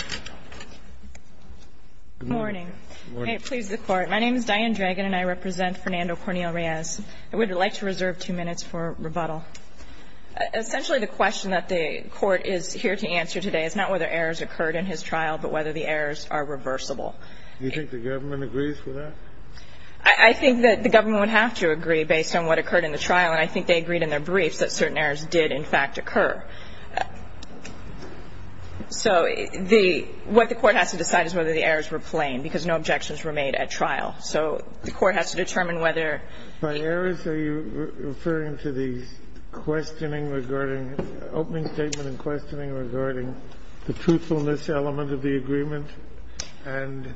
I would like to reserve 2 minutes for rebuttal. Essentially, the question that the court is here to answer today is not whether errors occurred in his trial, but whether the errors are reversible. Do you think the government agrees with that? I think that the government would have to agree based on what occurred in the trial, and I think they agreed in their briefs that certain errors did in fact occur. So the – what the court has to decide is whether the errors were plain, because no objections were made at trial. So the court has to determine whether – By errors, are you referring to the questioning regarding – opening statement and questioning regarding the truthfulness element of the agreement and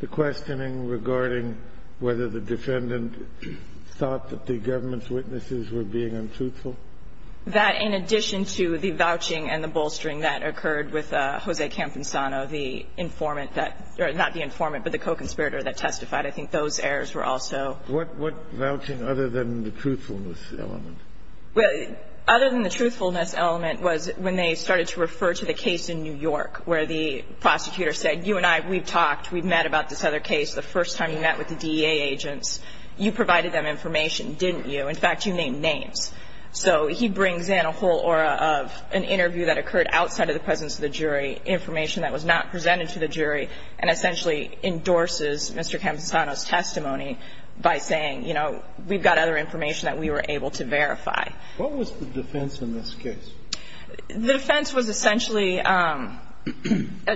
the questioning regarding whether the defendant thought that the government's witnesses were being untruthful? That in addition to the vouching and the bolstering that occurred with Jose Camposano, the informant that – or not the informant, but the co-conspirator that testified, I think those errors were also – What – what vouching other than the truthfulness element? Well, other than the truthfulness element was when they started to refer to the case in New York where the prosecutor said, you and I, we've talked, we've met about this other case, the first time you met with the DEA agents. You provided them information, didn't you? In fact, you named names. So he brings in a whole aura of an interview that occurred outside of the presence of the jury, information that was not presented to the jury, and essentially endorses Mr. Camposano's testimony by saying, you know, we've got other information that we were able to verify. What was the defense in this case? The defense was essentially a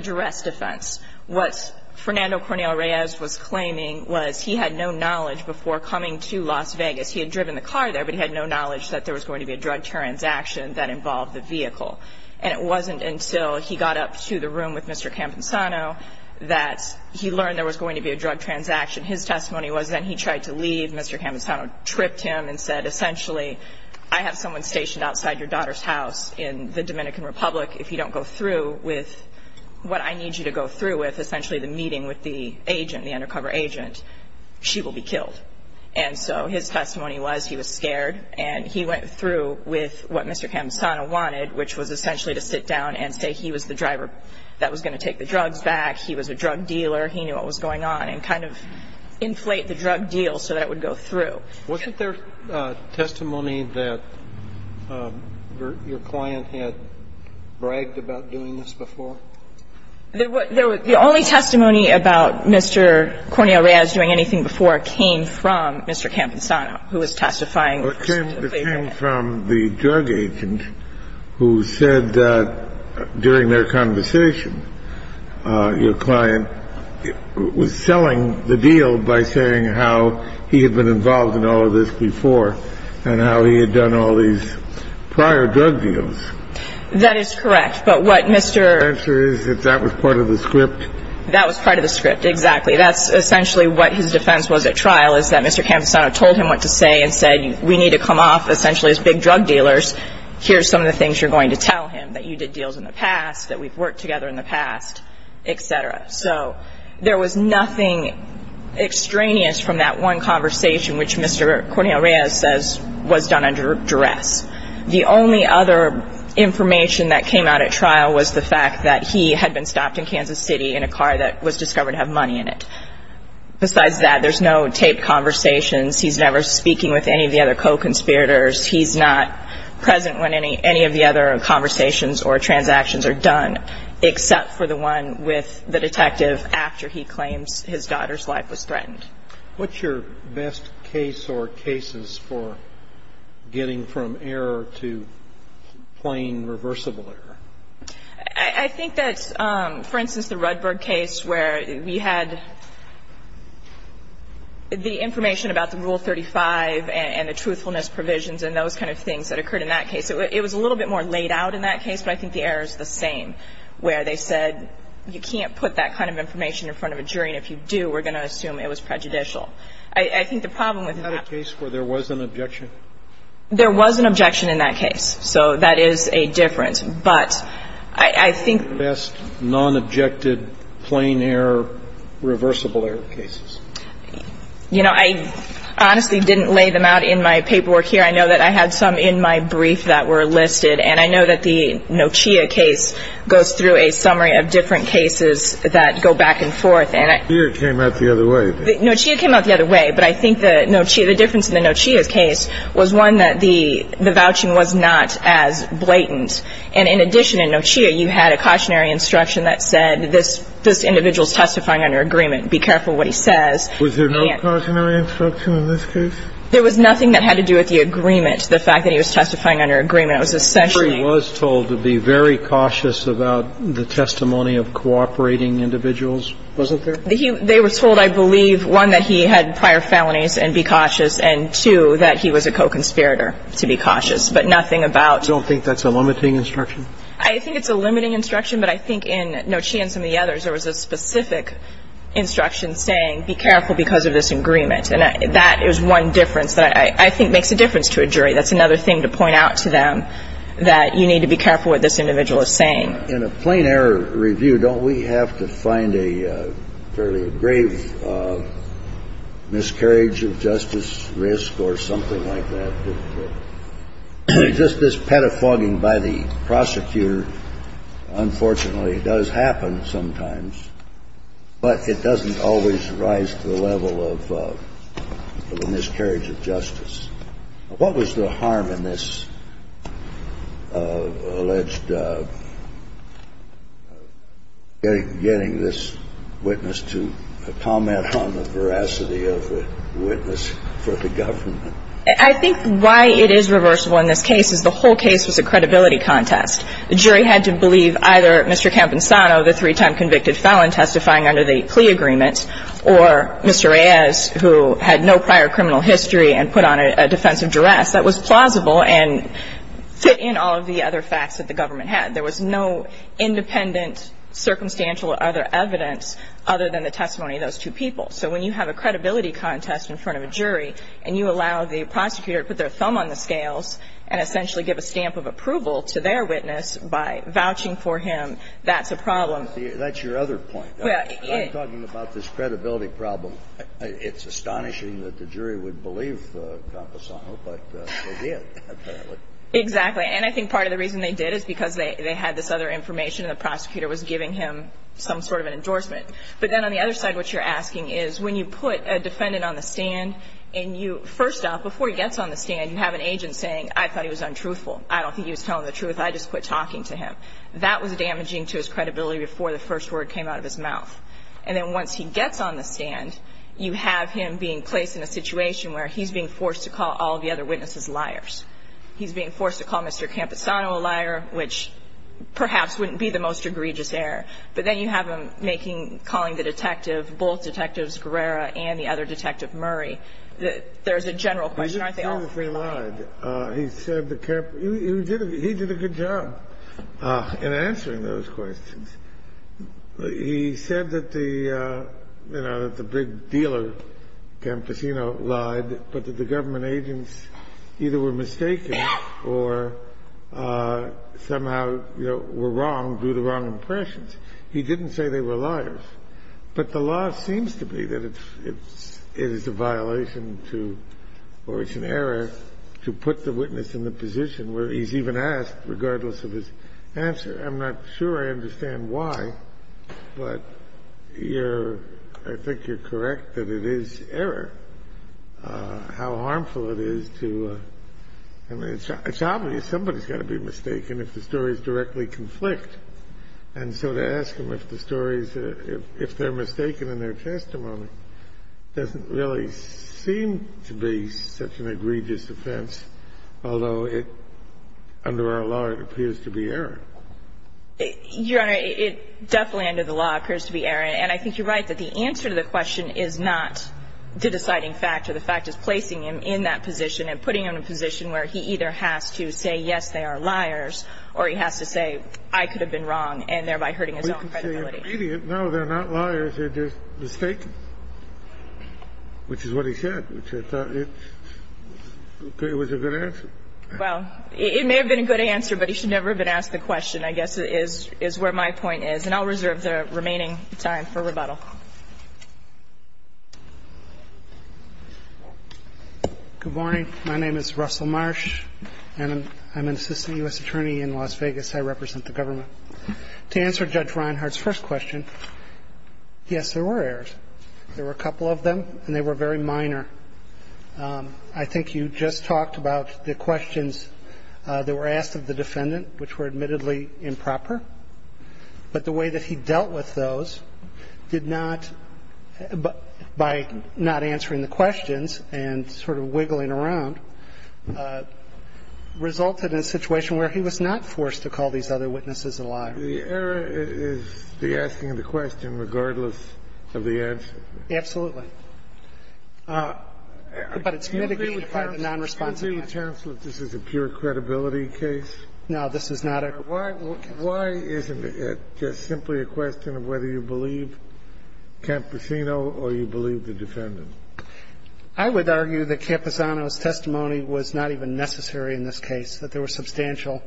duress defense. What Fernando Cornel Reyes was claiming was he had no knowledge before coming to Las Vegas. He had driven the car there, but he had no knowledge that there was going to be a drug transaction that involved the vehicle. And it wasn't until he got up to the room with Mr. Camposano that he learned there was going to be a drug transaction. His testimony was then he tried to leave. Mr. Camposano tripped him and said, essentially, I have someone stationed outside your daughter's house in the Dominican Republic. If you don't go through with what I need you to go through with, And so his testimony was he was scared. And he went through with what Mr. Camposano wanted, which was essentially to sit down and say he was the driver that was going to take the drugs back, he was a drug dealer, he knew what was going on, and kind of inflate the drug deal so that it would go through. Wasn't there testimony that your client had bragged about doing this before? The only testimony about Mr. Cornel Reyes doing anything before came from Mr. Camposano, who was testifying. It came from the drug agent who said that during their conversation, your client was selling the deal by saying how he had been involved in all of this before and how he had done all these prior drug deals. That is correct. But what Mr. The answer is that that was part of the script. That was part of the script, exactly. That's essentially what his defense was at trial, is that Mr. Camposano told him what to say and said we need to come off essentially as big drug dealers. Here's some of the things you're going to tell him, that you did deals in the past, that we've worked together in the past, et cetera. So there was nothing extraneous from that one conversation, which Mr. Cornel Reyes says was done under duress. The only other information that came out at trial was the fact that he had been stopped in Kansas City in a car that was discovered to have money in it. Besides that, there's no taped conversations. He's never speaking with any of the other co-conspirators. He's not present when any of the other conversations or transactions are done, except for the one with the detective after he claims his daughter's life was threatened. What's your best case or cases for getting from error to plain reversible error? I think that, for instance, the Rudberg case where we had the information about the Rule 35 and the truthfulness provisions and those kind of things that occurred in that case. It was a little bit more laid out in that case, but I think the error is the same, where they said you can't put that kind of information in front of a jury, and if you do, we're going to assume it was prejudicial. I think the problem with that was that there was an objection. There was an objection in that case, so that is a difference. But I think the best non-objected plain error, reversible error cases. You know, I honestly didn't lay them out in my paperwork here. I know that I had some in my brief that were listed, and I know that the Nochia case goes through a summary of different cases that go back and forth. Nochia came out the other way. Nochia came out the other way, but I think the difference in the Nochia case was one that the vouching was not as blatant. And in addition, in Nochia, you had a cautionary instruction that said this individual is testifying under agreement. Be careful what he says. Was there no cautionary instruction in this case? There was nothing that had to do with the agreement, the fact that he was testifying under agreement. It was essentially. Were you told to be very cautious about the testimony of cooperating individuals? Wasn't there? They were told, I believe, one, that he had prior felonies and be cautious, and two, that he was a co-conspirator, to be cautious. But nothing about. You don't think that's a limiting instruction? I think it's a limiting instruction, but I think in Nochia and some of the others, there was a specific instruction saying be careful because of this agreement. And that is one difference that I think makes a difference to a jury. That's another thing to point out to them, that you need to be careful what this individual is saying. In a plain error review, don't we have to find a fairly grave miscarriage of justice risk or something like that? Just this pedophoguing by the prosecutor, unfortunately, does happen sometimes, but it doesn't always rise to the level of the miscarriage of justice. What was the harm in this alleged getting this witness to comment on the veracity of the witness for the government? I think why it is reversible in this case is the whole case was a credibility contest. The jury had to believe either Mr. Campesano, the three-time convicted felon testifying under the plea agreement, or Mr. Reyes, who had no prior criminal history and put on a defense of duress that was plausible and fit in all of the other facts that the government had. There was no independent circumstantial or other evidence other than the testimony of those two people. So when you have a credibility contest in front of a jury and you allow the prosecutor to put their thumb on the scales and essentially give a stamp of approval to their witness by vouching for him, that's a problem. That's your other point. When I'm talking about this credibility problem, it's astonishing that the jury would believe Campesano, but they did, apparently. Exactly. And I think part of the reason they did is because they had this other information and the prosecutor was giving him some sort of an endorsement. But then on the other side, what you're asking is, when you put a defendant on the stand and you, first off, before he gets on the stand, you have an agent saying, I thought he was untruthful, I don't think he was telling the truth, I just quit talking to him. That was damaging to his credibility before the first word came out of his mouth. And then once he gets on the stand, you have him being placed in a situation where he's being forced to call all the other witnesses liars. He's being forced to call Mr. Campesano a liar, which perhaps wouldn't be the most egregious error. But then you have him making, calling the detective, both Detectives Guerrera and the other Detective Murray. There's a general question, aren't there? I don't think he lied. He did a good job in answering those questions. He said that the, you know, that the big dealer, Campesano, lied, but that the government agents either were mistaken or somehow, you know, were wrong due to wrong impressions. He didn't say they were liars. But the law seems to be that it's, it is a violation to, or it's an error to put the witness in the position where he's even asked regardless of his answer. I'm not sure I understand why, but you're, I think you're correct that it is error. How harmful it is to, I mean, it's obvious somebody's got to be mistaken if the story is directly conflict. And so to ask him if the story is, if they're mistaken in their testimony doesn't really seem to be such an egregious offense, although it, under our law, it appears to be error. Your Honor, it definitely under the law appears to be error. And I think you're right that the answer to the question is not the deciding factor. The fact is placing him in that position and putting him in a position where he either has to say, yes, they are liars, or he has to say, I could have been wrong, and thereby hurting his own credibility. No, they're not liars. They're just mistaken, which is what he said, which I thought it was a good answer. Well, it may have been a good answer, but he should never have been asked the question, I guess, is where my point is. And I'll reserve the remaining time for rebuttal. Good morning. My name is Russell Marsh, and I'm an assistant U.S. attorney in Las Vegas. I represent the government. To answer Judge Reinhart's first question, yes, there were errors. There were a couple of them, and they were very minor. I think you just talked about the questions that were asked of the defendant, which were admittedly improper. But the way that he dealt with those did not, by not answering the questions and sort of wiggling around, resulted in a situation where he was not forced to call these other witnesses a liar. The error is the asking of the question regardless of the answer. Absolutely. But it's mitigated by the nonresponsive answer. Do you agree with counsel that this is a pure credibility case? No, this is not a. Why isn't it just simply a question of whether you believe Camposino or you believe the defendant? I would argue that Camposino's testimony was not even necessary in this case, that there was substantial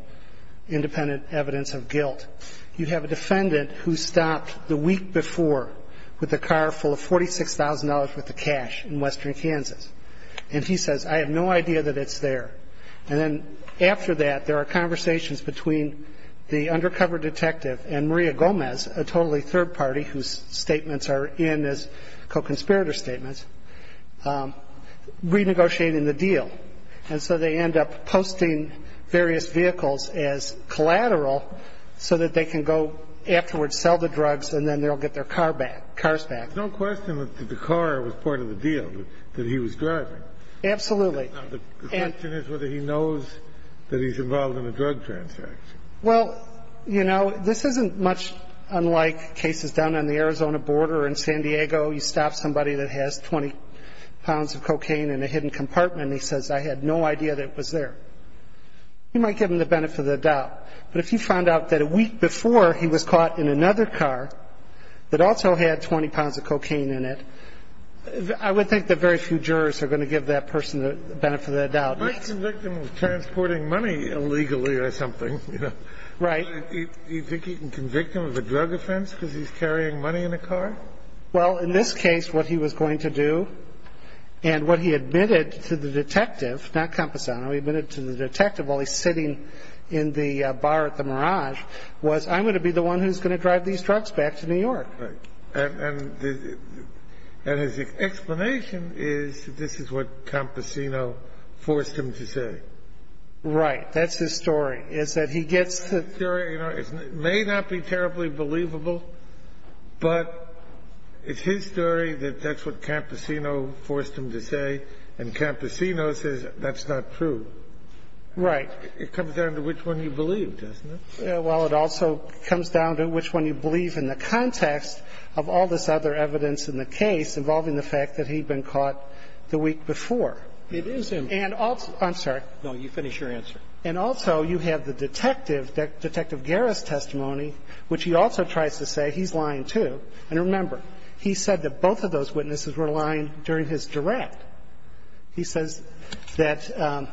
independent evidence of guilt. You have a defendant who stopped the week before with a car full of $46,000 worth of cash in western Kansas. And he says, I have no idea that it's there. And then after that, there are conversations between the undercover detective and Maria Gomez, a totally third party whose statements are in as co-conspirator statements, renegotiating the deal. And so they end up posting various vehicles as collateral so that they can go afterwards, sell the drugs, and then they'll get their car back, cars back. There's no question that the car was part of the deal that he was driving. Absolutely. Now, the question is whether he knows that he's involved in a drug transaction. Well, you know, this isn't much unlike cases down on the Arizona border. In San Diego, you stop somebody that has 20 pounds of cocaine in a hidden compartment and he says, I had no idea that it was there. You might give him the benefit of the doubt. But if you found out that a week before he was caught in another car that also had 20 pounds of cocaine in it, I would think that very few jurors are going to give that person the benefit of the doubt. You might convict him of transporting money illegally or something. Right. Do you think you can convict him of a drug offense because he's carrying money in a car? Well, in this case, what he was going to do and what he admitted to the detective, not Camposano, he admitted to the detective while he's sitting in the bar at the Mirage, was I'm going to be the one who's going to drive these drugs back to New York. Right. And his explanation is this is what Camposano forced him to say. Right. That's his story, is that he gets the ---- It may not be terribly believable, but it's his story that that's what Camposano forced him to say, and Camposano says that's not true. Right. It comes down to which one you believe, doesn't it? Well, it also comes down to which one you believe in the context of all this other evidence in the case involving the fact that he'd been caught the week before. It is him. I'm sorry. No, you finish your answer. And also, you have the detective, Detective Guerra's testimony, which he also tries to say he's lying too. And remember, he said that both of those witnesses were lying during his direct. He says that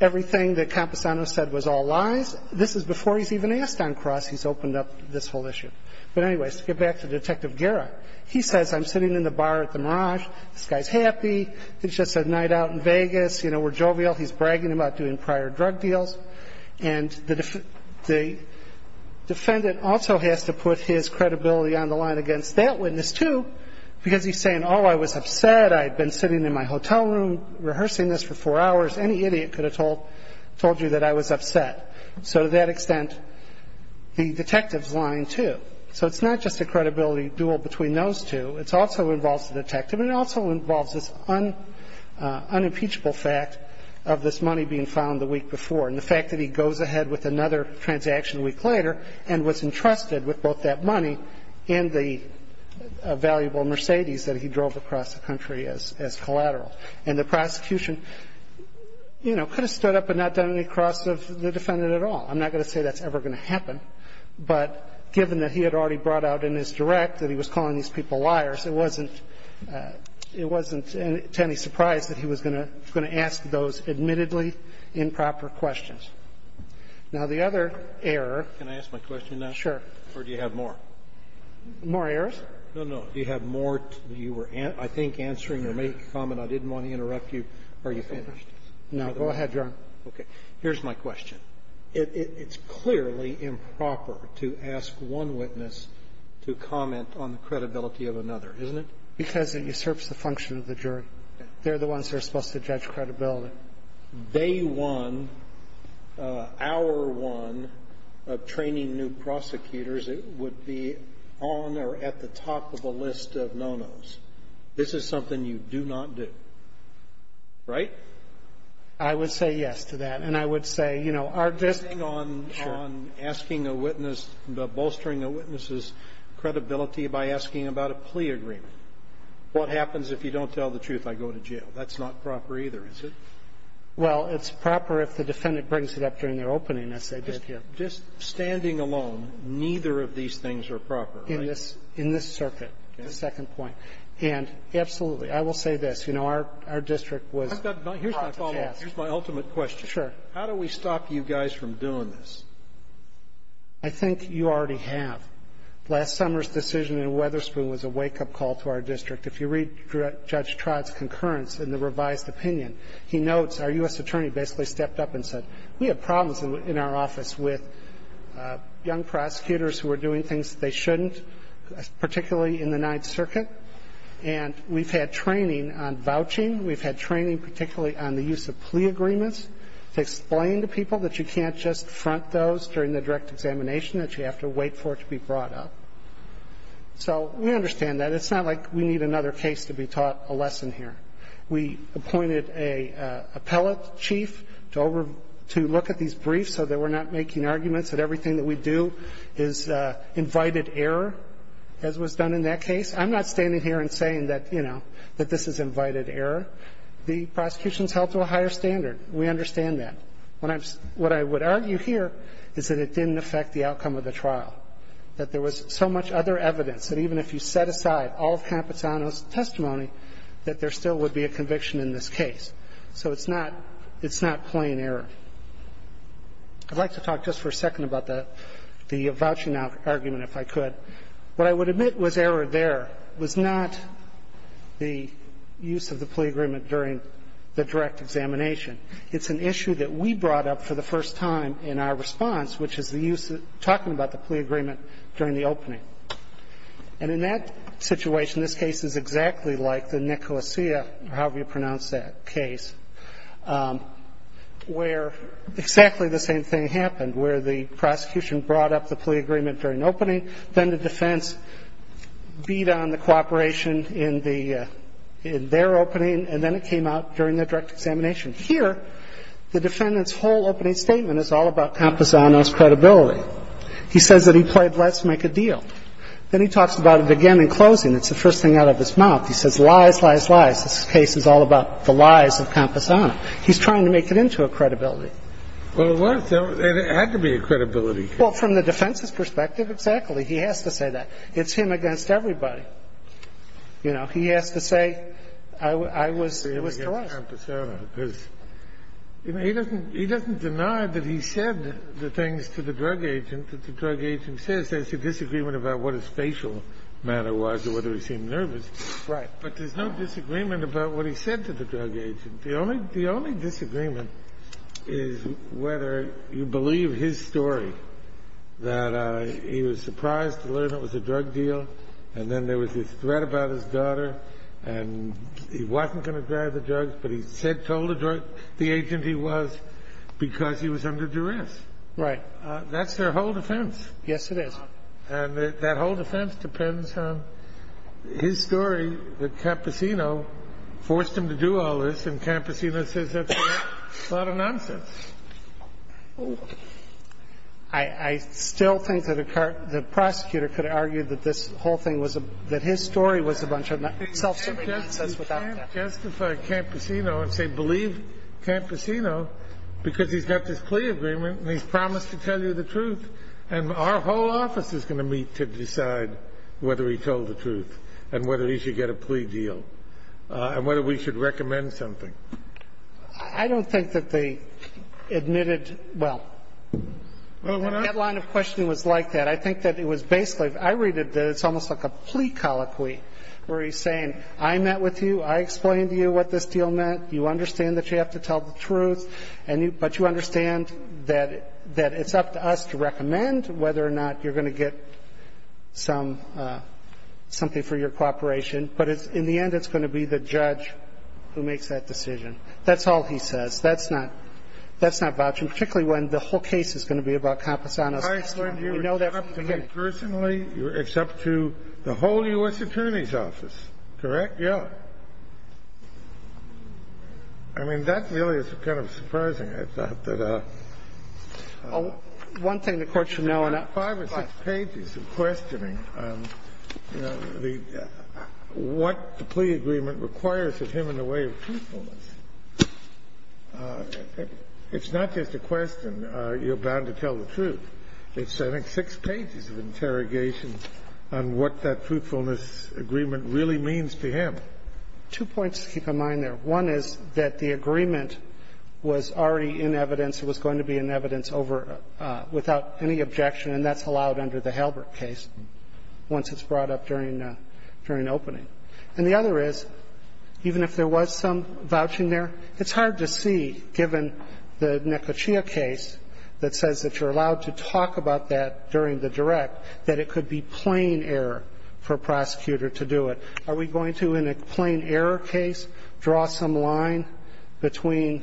everything that Camposano said was all lies. This is before he's even asked on cross he's opened up this whole issue. But anyways, to get back to Detective Guerra, he says I'm sitting in the bar at the Mirage. This guy's happy. It's just a night out in Vegas. You know, we're jovial. He's bragging about doing prior drug deals. And the defendant also has to put his credibility on the line against that witness too because he's saying, oh, I was upset. I had been sitting in my hotel room rehearsing this for four hours. Any idiot could have told you that I was upset. So to that extent, the detective's lying too. So it's not just a credibility duel between those two. It also involves the detective. And it also involves this unimpeachable fact of this money being found the week before and the fact that he goes ahead with another transaction a week later and was entrusted with both that money and the valuable Mercedes that he drove across the country as collateral. And the prosecution, you know, could have stood up and not done any cross of the defendant at all. I'm not going to say that's ever going to happen, but given that he had already brought out in his direct that he was calling these people liars, it wasn't to any surprise that he was going to ask those admittedly improper questions. Now, the other error. Can I ask my question now? Sure. Or do you have more? More errors? No, no. Do you have more? You were, I think, answering or making a comment. I didn't want to interrupt you. Are you finished? No. Go ahead, Your Honor. Okay. Here's my question. It's clearly improper to ask one witness to comment on the credibility of another, isn't it? Because it usurps the function of the jury. They're the ones who are supposed to judge credibility. They won. And if you were to tell me our one of training new prosecutors, it would be on or at the top of the list of no-no's. This is something you do not do. Right? I would say yes to that. And I would say, you know, our judge can't do that. I'm asking a witness, bolstering a witness's credibility by asking about a plea agreement. What happens if you don't tell the truth? I go to jail. That's not proper either, is it? Well, it's proper if the defendant brings it up during their opening, as they did here. Just standing alone, neither of these things are proper, right? In this circuit, the second point. And absolutely, I will say this. You know, our district was hot to task. Here's my follow-up. Here's my ultimate question. Sure. How do we stop you guys from doing this? I think you already have. Last summer's decision in Weatherspoon was a wake-up call to our district. If you read Judge Trott's concurrence in the revised opinion, he notes our U.S. attorney basically stepped up and said, we have problems in our office with young prosecutors who are doing things they shouldn't, particularly in the Ninth Circuit. And we've had training on vouching. We've had training particularly on the use of plea agreements to explain to people that you can't just front those during the direct examination, that you have to wait for it to be brought up. So we understand that. It's not like we need another case to be taught a lesson here. We appointed an appellate chief to look at these briefs so that we're not making arguments that everything that we do is invited error, as was done in that case. I'm not standing here and saying that, you know, that this is invited error. The prosecution is held to a higher standard. We understand that. What I would argue here is that it didn't affect the outcome of the trial, that there was so much other evidence that even if you set aside all of Capitano's testimony, that there still would be a conviction in this case. So it's not plain error. I'd like to talk just for a second about the vouching argument, if I could. What I would admit was error there was not the use of the plea agreement during the direct examination. It's an issue that we brought up for the first time in our response, which is the use of talking about the plea agreement during the opening. And in that situation, this case is exactly like the Nicholasia, however you pronounce that case, where exactly the same thing happened, where the prosecution brought up the plea agreement during the opening, then the defense beat on the cooperation in their opening, and then it came out during the direct examination. Here, the defendant's whole opening statement is all about Camposano's credibility. He says that he played let's make a deal. Then he talks about it again in closing. It's the first thing out of his mouth. He says lies, lies, lies. This case is all about the lies of Camposano. He's trying to make it into a credibility. Well, it was. It had to be a credibility case. Well, from the defense's perspective, exactly. He has to say that. It's him against everybody. You know, he has to say it was to us. He doesn't deny that he said the things to the drug agent that the drug agent says. There's a disagreement about what his facial manner was or whether he seemed nervous. Right. But there's no disagreement about what he said to the drug agent. The only disagreement is whether you believe his story, that he was surprised to learn it was a drug deal, and then there was this threat about his daughter, and he wasn't going to drive the drugs, but he told the agent he was because he was under duress. Right. That's their whole defense. Yes, it is. And that whole defense depends on his story that Camposano forced him to do all this, and Camposano says that's a lot of nonsense. I still think that the prosecutor could argue that this whole thing was a – that his story was a bunch of self-serving nonsense without doubt. You can't justify Camposano and say believe Camposano because he's got this plea agreement and he's promised to tell you the truth, and our whole office is going to meet to decide whether he told the truth and whether he should get a plea deal and whether we should recommend something. I don't think that they admitted – well, the headline of questioning was like that. I think that it was basically – I read it that it's almost like a plea colloquy where he's saying I met with you, I explained to you what this deal meant, you understand that you have to tell the truth, but you understand that it's up to us to recommend whether or not you're going to get some – that's all he says. That's not vouching, particularly when the whole case is going to be about Camposano's testimony. We know that from the beginning. I assume it's up to me personally. It's up to the whole U.S. Attorney's Office, correct? Yeah. I mean, that really is kind of surprising. I thought that – One thing the Court should know – Five or six pages of questioning. What the plea agreement requires of him in the way of truthfulness. It's not just a question, you're bound to tell the truth. It's, I think, six pages of interrogation on what that truthfulness agreement really means to him. Two points to keep in mind there. One is that the agreement was already in evidence, it was going to be in evidence without any objection, and that's allowed under the Halbert case, once it's brought up during opening. And the other is, even if there was some vouching there, it's hard to see given the Nekochia case that says that you're allowed to talk about that during the direct, that it could be plain error for a prosecutor to do it. Are we going to, in a plain error case, draw some line between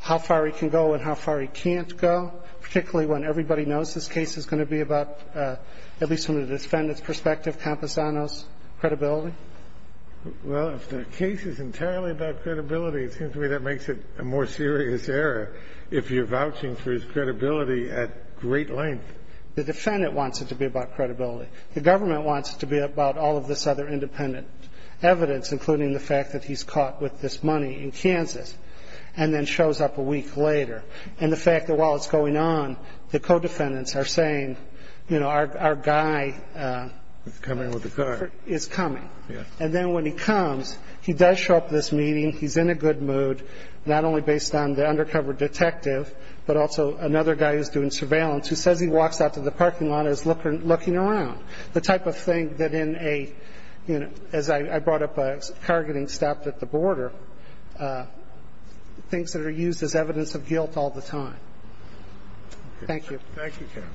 how far he can go and how far he can't go, particularly when everybody knows this case is going to be about, at least from the defendant's perspective, Camposano's credibility? Well, if the case is entirely about credibility, it seems to me that makes it a more serious error if you're vouching for his credibility at great length. The defendant wants it to be about credibility. The government wants it to be about all of this other independent evidence, including the fact that he's caught with this money in Kansas and then shows up a week later. And the fact that while it's going on, the co-defendants are saying, you know, our guy is coming. And then when he comes, he does show up at this meeting, he's in a good mood, not only based on the undercover detective, but also another guy who's doing surveillance who says he walks out to the parking lot and is looking around. The type of thing that in a, you know, as I brought up, a car getting stopped at the border, things that are used as evidence of guilt all the time. Thank you. Thank you, counsel.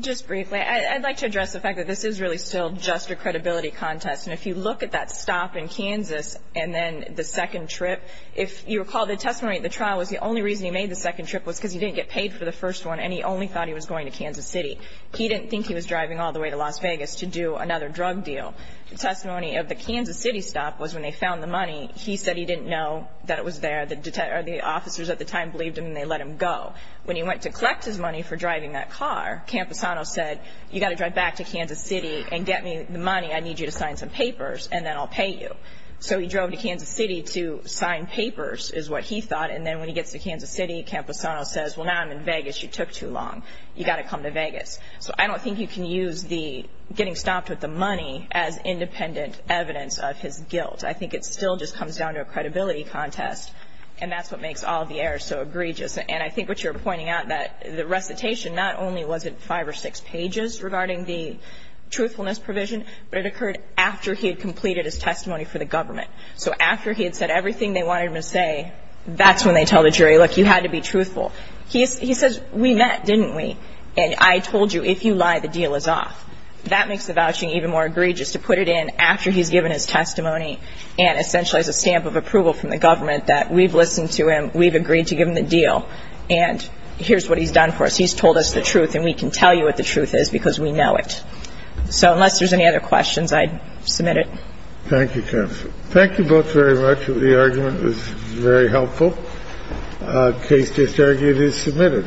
Just briefly, I'd like to address the fact that this is really still just a credibility contest. And if you look at that stop in Kansas and then the second trip, if you recall the testimony at the trial was the only reason he made the second trip was because he didn't get paid for the first one and he only thought he was going to Kansas City. He didn't think he was driving all the way to Las Vegas to do another drug deal. The testimony of the Kansas City stop was when they found the money, he said he didn't know that it was there. The officers at the time believed him and they let him go. When he went to collect his money for driving that car, Camposano said, you've got to drive back to Kansas City and get me the money. I need you to sign some papers and then I'll pay you. So he drove to Kansas City to sign papers is what he thought. And then when he gets to Kansas City, Camposano says, well, now I'm in Vegas. You took too long. You've got to come to Vegas. So I don't think you can use the getting stopped with the money as independent evidence of his guilt. I think it still just comes down to a credibility contest. And that's what makes all the errors so egregious. And I think what you're pointing out that the recitation not only was it five or six pages regarding the truthfulness provision, but it occurred after he had completed his testimony for the government. So after he had said everything they wanted him to say, that's when they tell the jury, look, you had to be truthful. He says, we met, didn't we? And I told you if you lie, the deal is off. That makes the vouching even more egregious to put it in after he's given his testimony and essentially has a stamp of approval from the government that we've listened to him, we've agreed to give him the deal, and here's what he's done for us. He's told us the truth and we can tell you what the truth is because we know it. So unless there's any other questions, I'd submit it. Thank you, counsel. Thank you both very much. The argument was very helpful. Case disargued is submitted.